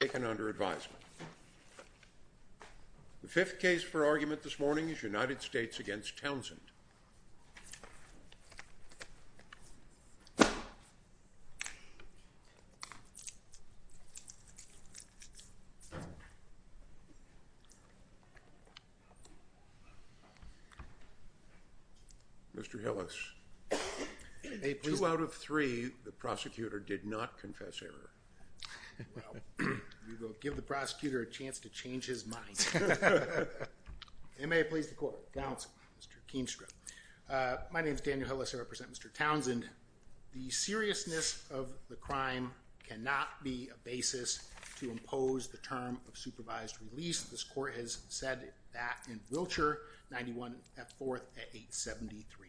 taken under advisement. The fifth case for argument this morning is United States v. Well, we will give the prosecutor a chance to change his mind. May it please the court. My name is Daniel Hillis, I represent Mr. Townsend. The seriousness of the crime cannot be a basis to impose the term of supervised release. This court has said that in Wiltshire 91 F. 4th A. 873.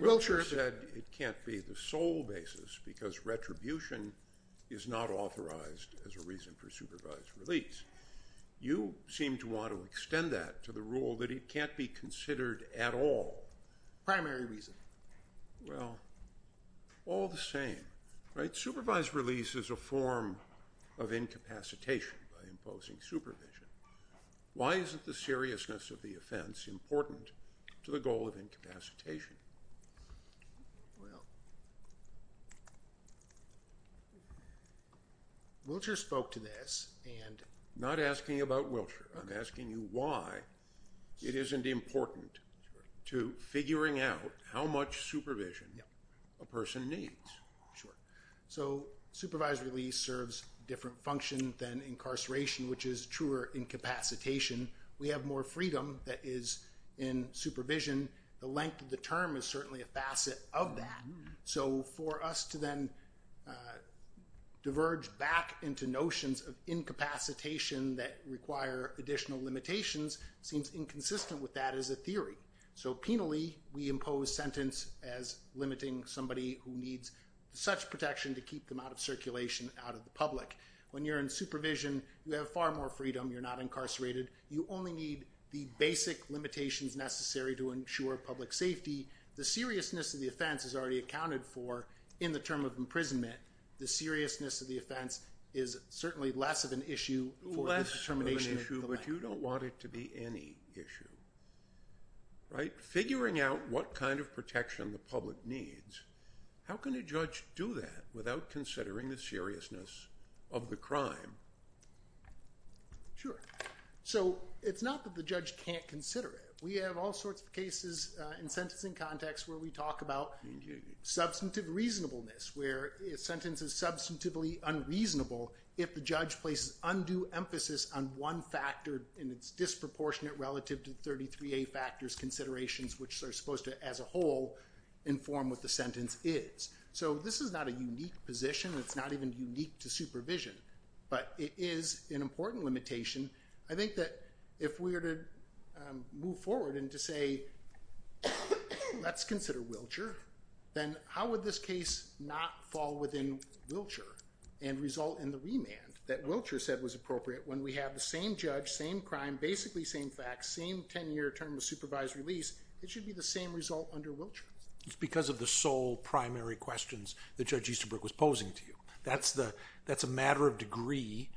Wiltshire said it can't be the sole basis because retribution is not authorized as a reason for supervised release. You seem to want to extend that to the rule that it can't be considered at all. Primary reason. Well, all the same. Supervised release is a form of incapacitation by imposing supervision. Why isn't the seriousness of the offense important to the goal of incapacitation? Wiltshire spoke to this. I'm not asking about Wiltshire, I'm asking you why it isn't important to figuring out how much supervision a person needs. So supervised release serves a different function than incarceration, which is truer incapacitation. We have more freedom that is in supervision. The length of the term is certainly a facet of that. So for us to then diverge back into notions of incapacitation that require additional limitations seems inconsistent with that as a theory. So, penally, we impose sentence as limiting somebody who needs such protection to keep them out of circulation, out of the public. When you're in supervision, you have far more freedom, you're not incarcerated. You only need the basic limitations necessary to ensure public safety. The seriousness of the offense is already accounted for in the term of imprisonment. The seriousness of the offense is certainly less of an issue. Less of an issue, but you don't want it to be any issue. Figuring out what kind of protection the public needs, how can a judge do that without considering the seriousness of the crime? Sure. So it's not that the judge can't consider it. We have all sorts of cases in sentencing context where we talk about substantive reasonableness, where a sentence is substantively unreasonable if the judge places undue emphasis on one factor and it's disproportionate relative to 33A factors considerations, which are supposed to, as a whole, inform what the sentence is. So this is not a unique position. It's not even unique to supervision. But it is an important limitation. I think that if we were to move forward and to say, let's consider Wiltshire, then how would this case not fall within Wiltshire and result in the remand that Wiltshire said was appropriate when we have the same judge, same crime, basically same facts, same 10-year term of supervised release, it should be the same result under Wiltshire. It's because of the sole primary questions that Judge Easterbrook was posing to you. That's a matter of degree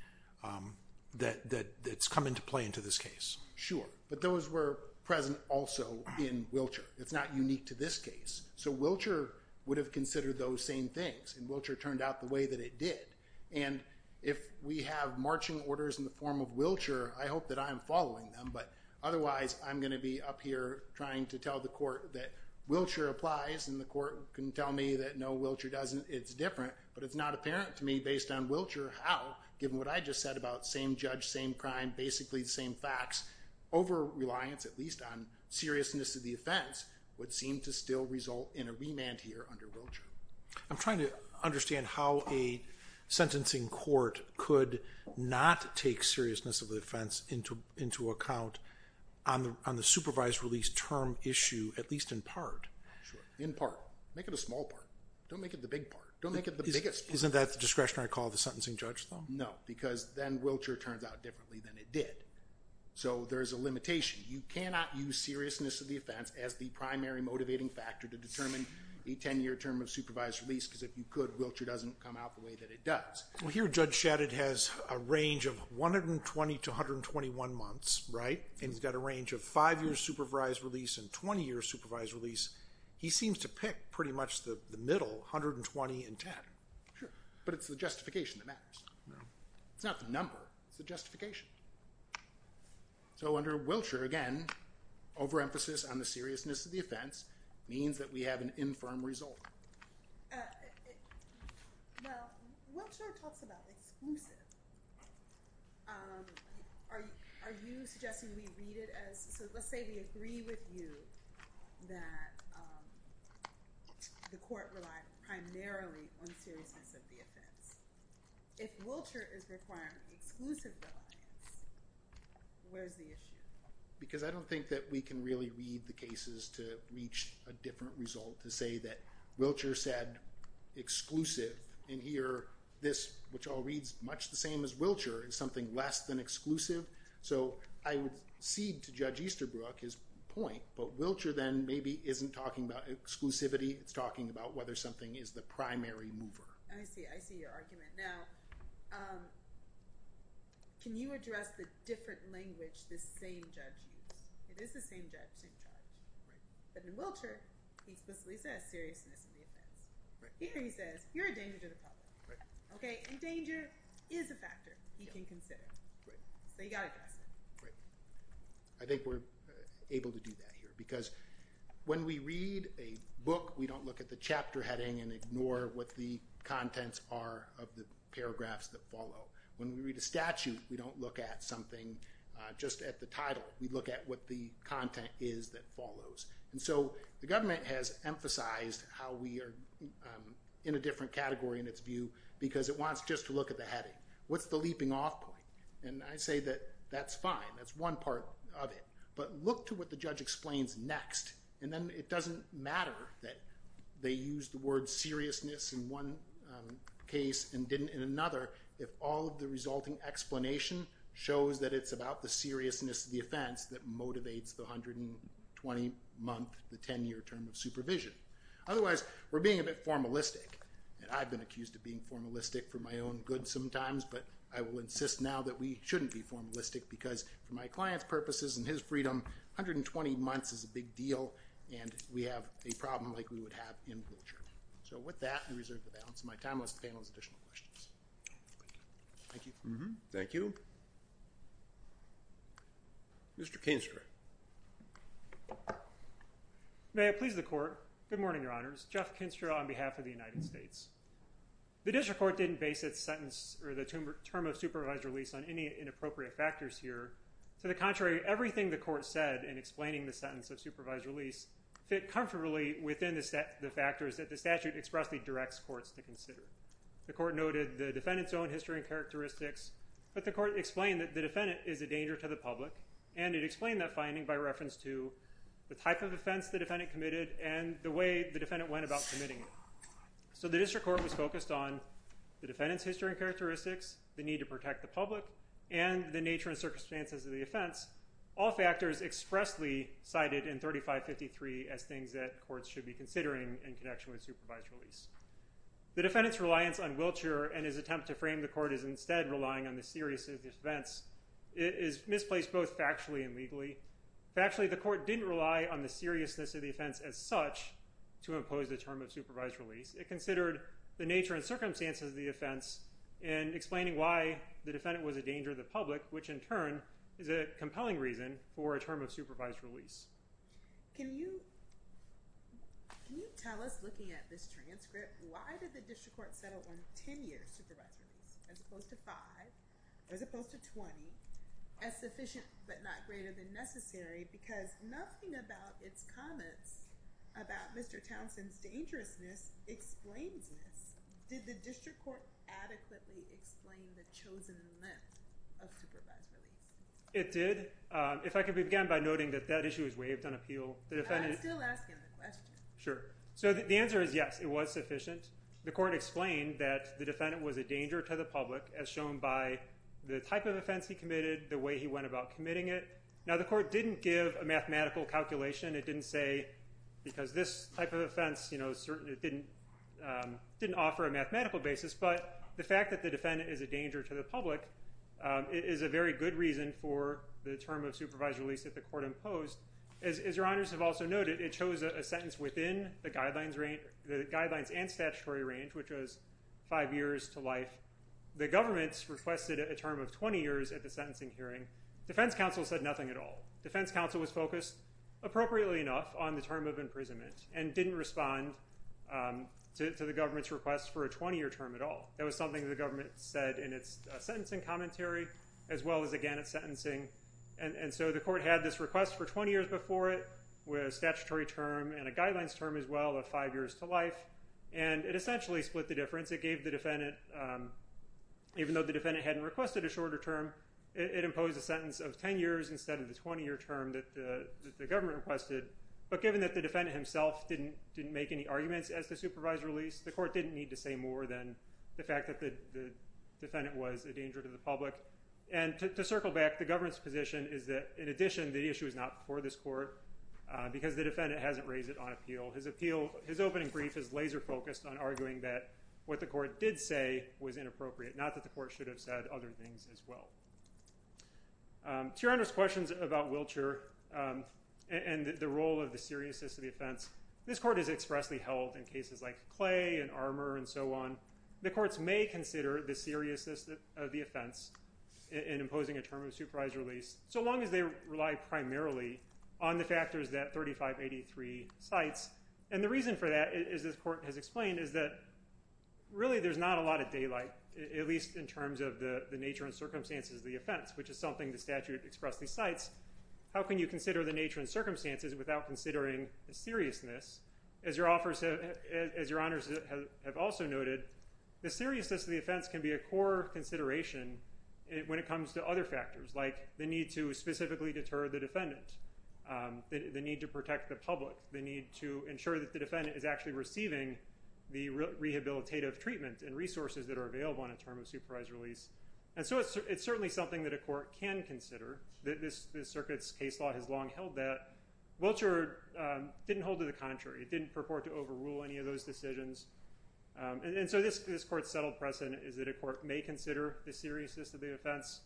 that's come into play into this case. Sure. But those were present also in Wiltshire. It's not unique to this case. So Wiltshire would have considered those same things, and Wiltshire turned out the way that it did. And if we have marching orders in the form of Wiltshire, I hope that I'm following them, but otherwise I'm going to be up here trying to tell the court that Wiltshire applies and the court can tell me that no, Wiltshire doesn't, it's different, but it's not apparent to me based on Wiltshire how, given what I just said about same judge, same crime, basically the same facts, over-reliance at least on seriousness of the offense would seem to still result in a remand here under Wiltshire. I'm trying to understand how a sentencing court could not take seriousness of the offense into account in part. Make it a small part. Don't make it the big part. Don't make it the biggest part. Isn't that the discretionary call of the sentencing judge, though? No, because then Wiltshire turns out differently than it did. So there's a limitation. You cannot use seriousness of the offense as the primary motivating factor to determine a 10-year term of supervised release because if you could, Wiltshire doesn't come out the way that it does. Well, here Judge Shadid has a range of 120 to 121 months, right? And he's got a range of five-year supervised release and 20-year supervised release. He seems to pick pretty much the middle, 120 and 10. Sure. But it's the justification that matters. No. It's not the number. It's the justification. So under Wiltshire, again, over-emphasis on the seriousness of the offense means that we have an infirm result. Well, Wiltshire talks about exclusive. Are you suggesting we read it as so let's say we agree with you that the court relied primarily on seriousness of the offense. If Wiltshire is requiring exclusive reliance, where's the issue? Because I don't think that we can really read the cases to reach a different result to say that Wiltshire said exclusive, and here this, which all reads much the same as Wiltshire, is something less than exclusive. So I would cede to Judge Easterbrook his point, but Wiltshire then maybe isn't talking about exclusivity. It's talking about whether something is the primary mover. I see. I see your argument. Now, can you address the different language this same judge used? It is the same judge. But in Wiltshire, he explicitly says seriousness of the offense. Here he says you're a danger to the public. And danger is a factor he can consider. So you've got to address it. I think we're able to do that here because when we read a book, we don't look at the chapter heading and ignore what the contents are of the paragraphs that follow. When we read a statute, we don't look at something just at the title. We look at what the content is that follows. And so the government has emphasized how we are in a different category in its view because it wants just to look at the heading. What's the leaping off point? And I say that that's fine. That's one part of it. But look to what the judge explains next, and then it doesn't matter that they use the word seriousness in one case and didn't in another if all of the resulting explanation shows that it's about the seriousness of the offense that motivates the 120-month, the 10-year term of supervision. Otherwise, we're being a bit formalistic, and I've been accused of being formalistic for my own good sometimes, but I will insist now that we shouldn't be formalistic because for my client's purposes and his freedom, 120 months is a big deal, and we have a problem like we would have in Wiltshire. So with that, I reserve the balance of my time. Thank you. Thank you. Mr. Kinstra. May it please the Court. Good morning, Your Honors. Jeff Kinstra on behalf of the United States. The district court didn't base its sentence or the term of supervised release on any inappropriate factors here. To the contrary, everything the court said in explaining the sentence of supervised release fit comfortably within the factors that the statute expressly directs courts to consider. The court noted the defendant's own history and characteristics, but the court explained that the defendant is a danger to the public, and it explained that finding by reference to the type of offense the defendant committed and the way the defendant went about committing it. So the district court was focused on the defendant's history and characteristics, the need to protect the public, and the nature and circumstances of the offense, all factors expressly cited in 3553 as things that courts should be considering in connection with supervised release. The defendant's reliance on Wiltshire and his attempt to frame the court as instead relying on the seriousness of the offense is misplaced both factually and legally. Factually, the court didn't rely on the seriousness of the offense as such to impose the term of supervised release. It considered the nature and circumstances of the offense in explaining why the defendant was a danger to the public, which in turn is a compelling reason for a term of supervised release. Can you tell us, looking at this transcript, why did the district court settle on 10 years supervised release as opposed to 5 or as opposed to 20 as sufficient but not greater than necessary because nothing about its comments about Mr. Townsend's dangerousness explains this. Did the district court adequately explain the chosen length of supervised release? It did. If I could begin by noting that that issue is waived on appeal. I'm still asking the question. Sure. So the answer is yes, it was sufficient. The court explained that the defendant was a danger to the public as shown by the type of offense he committed, the way he went about committing it. Now the court didn't give a mathematical calculation. It didn't say because this type of offense didn't offer a mathematical basis, but the fact that the defendant is a danger to the public is a very good reason for the term of supervised release that the court imposed. As your honors have also noted, it chose a sentence within the guidelines and statutory range, which was 5 years to life. The government requested a term of 20 years at the sentencing hearing. Defense counsel said nothing at all. Defense counsel was focused appropriately enough on the term of imprisonment and didn't respond to the government's request for a 20-year term at all. That was something the government said in its sentencing commentary as well as again at sentencing. And so the court had this request for 20 years before it with a statutory term and a guidelines term as well of 5 years to life, and it essentially split the difference. It gave the defendant, even though the defendant hadn't requested a shorter term, it imposed a sentence of 10 years instead of the 20-year term that the government requested. But given that the defendant himself didn't make any arguments as to supervised release, the court didn't need to say more than the fact that the defendant was a danger to the public. And to circle back, the government's position is that, in addition, the issue is not for this court because the defendant hasn't raised it on appeal. His opening brief is laser-focused on arguing that what the court did say was inappropriate, not that the court should have said other things as well. To your Honor's questions about Wiltshire and the role of the seriousness of the offense, this court has expressly held in cases like Clay and Armour and so on, the courts may consider the seriousness of the offense in imposing a term of supervised release so long as they rely primarily on the factors that 3583 cites. And the reason for that, as this court has explained, is that really there's not a lot of daylight. At least in terms of the nature and circumstances of the offense, which is something the statute expressly cites. How can you consider the nature and circumstances without considering the seriousness? As your Honors have also noted, the seriousness of the offense can be a core consideration when it comes to other factors like the need to specifically deter the defendant, the need to protect the public, the need to ensure that the defendant is actually receiving the rehabilitative treatment and resources that are available in a term of supervised release. And so it's certainly something that a court can consider. The circuit's case law has long held that. Wiltshire didn't hold to the contrary. It didn't purport to overrule any of those decisions. And so this court's settled precedent is that a court may consider the seriousness of the offense.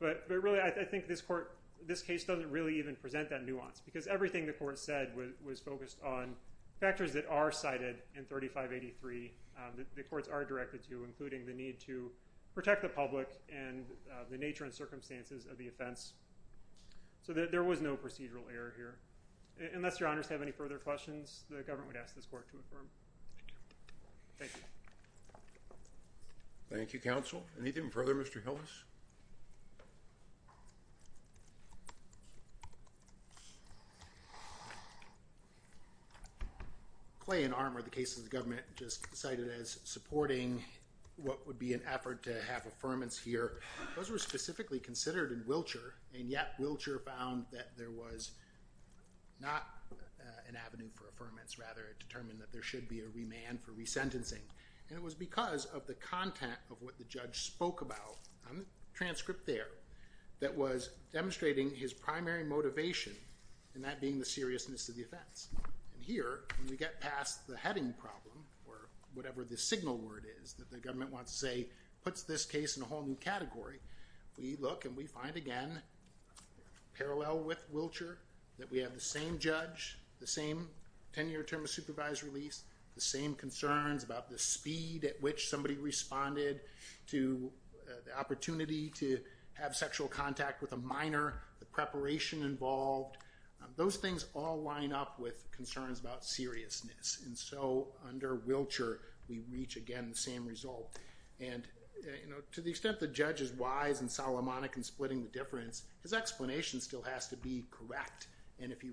But really, I think this case doesn't really even present that nuance because everything the court said was focused on factors that are cited in 3583 that the courts are directed to, including the need to protect the public and the nature and circumstances of the offense. So there was no procedural error here. Unless your Honors have any further questions, the government would ask this court to affirm. Thank you. Thank you, Counsel. Anything further, Mr. Hillis? Clay and Armour, the cases the government just cited as supporting what would be an effort to have affirmance here, those were specifically considered in Wiltshire, and yet Wiltshire found that there was not an avenue for affirmance, rather it determined that there should be a remand for resentencing. And it was because of the content of what the judge spoke about on the transcript there that was demonstrating his primary motivation, and that being the seriousness of the offense. And here, when we get past the heading problem, or whatever the signal word is that the government wants to say puts this case in a whole new category, we look and we find again, parallel with Wiltshire, that we have the same judge, the same tenure term of supervised release, the same concerns about the speed at which somebody responded to the opportunity to have sexual contact with a minor, the preparation involved. Those things all line up with concerns about seriousness. And so under Wiltshire, we reach again the same result. And to the extent the judge is wise and Solomonic in splitting the difference, his explanation still has to be correct. And if he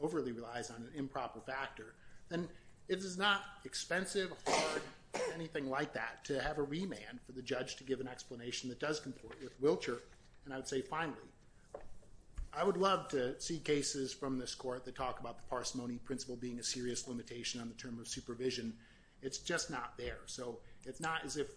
overly relies on an improper factor, then it is not expensive or hard or anything like that to have a remand for the judge to give an explanation that does comport with Wiltshire. And I would say finally, I would love to see cases from this court that talk about the parsimony principle being a serious limitation on the term of supervision. It's just not there. So it's not as if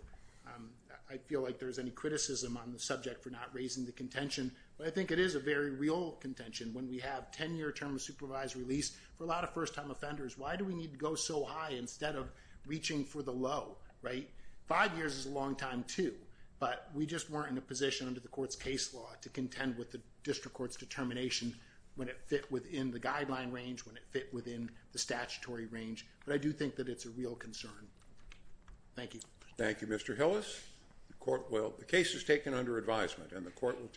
I feel like there's any criticism on the subject for not raising the contention. But I think it is a very real contention. When we have tenure term of supervised release, for a lot of first-time offenders, why do we need to go so high instead of reaching for the low, right? Five years is a long time, too. But we just weren't in a position under the court's case law to contend with the district court's determination when it fit within the guideline range, when it fit within the statutory range. But I do think that it's a real concern. Thank you. Thank you, Mr. Hillis. The case is taken under advisement, and the court will take it.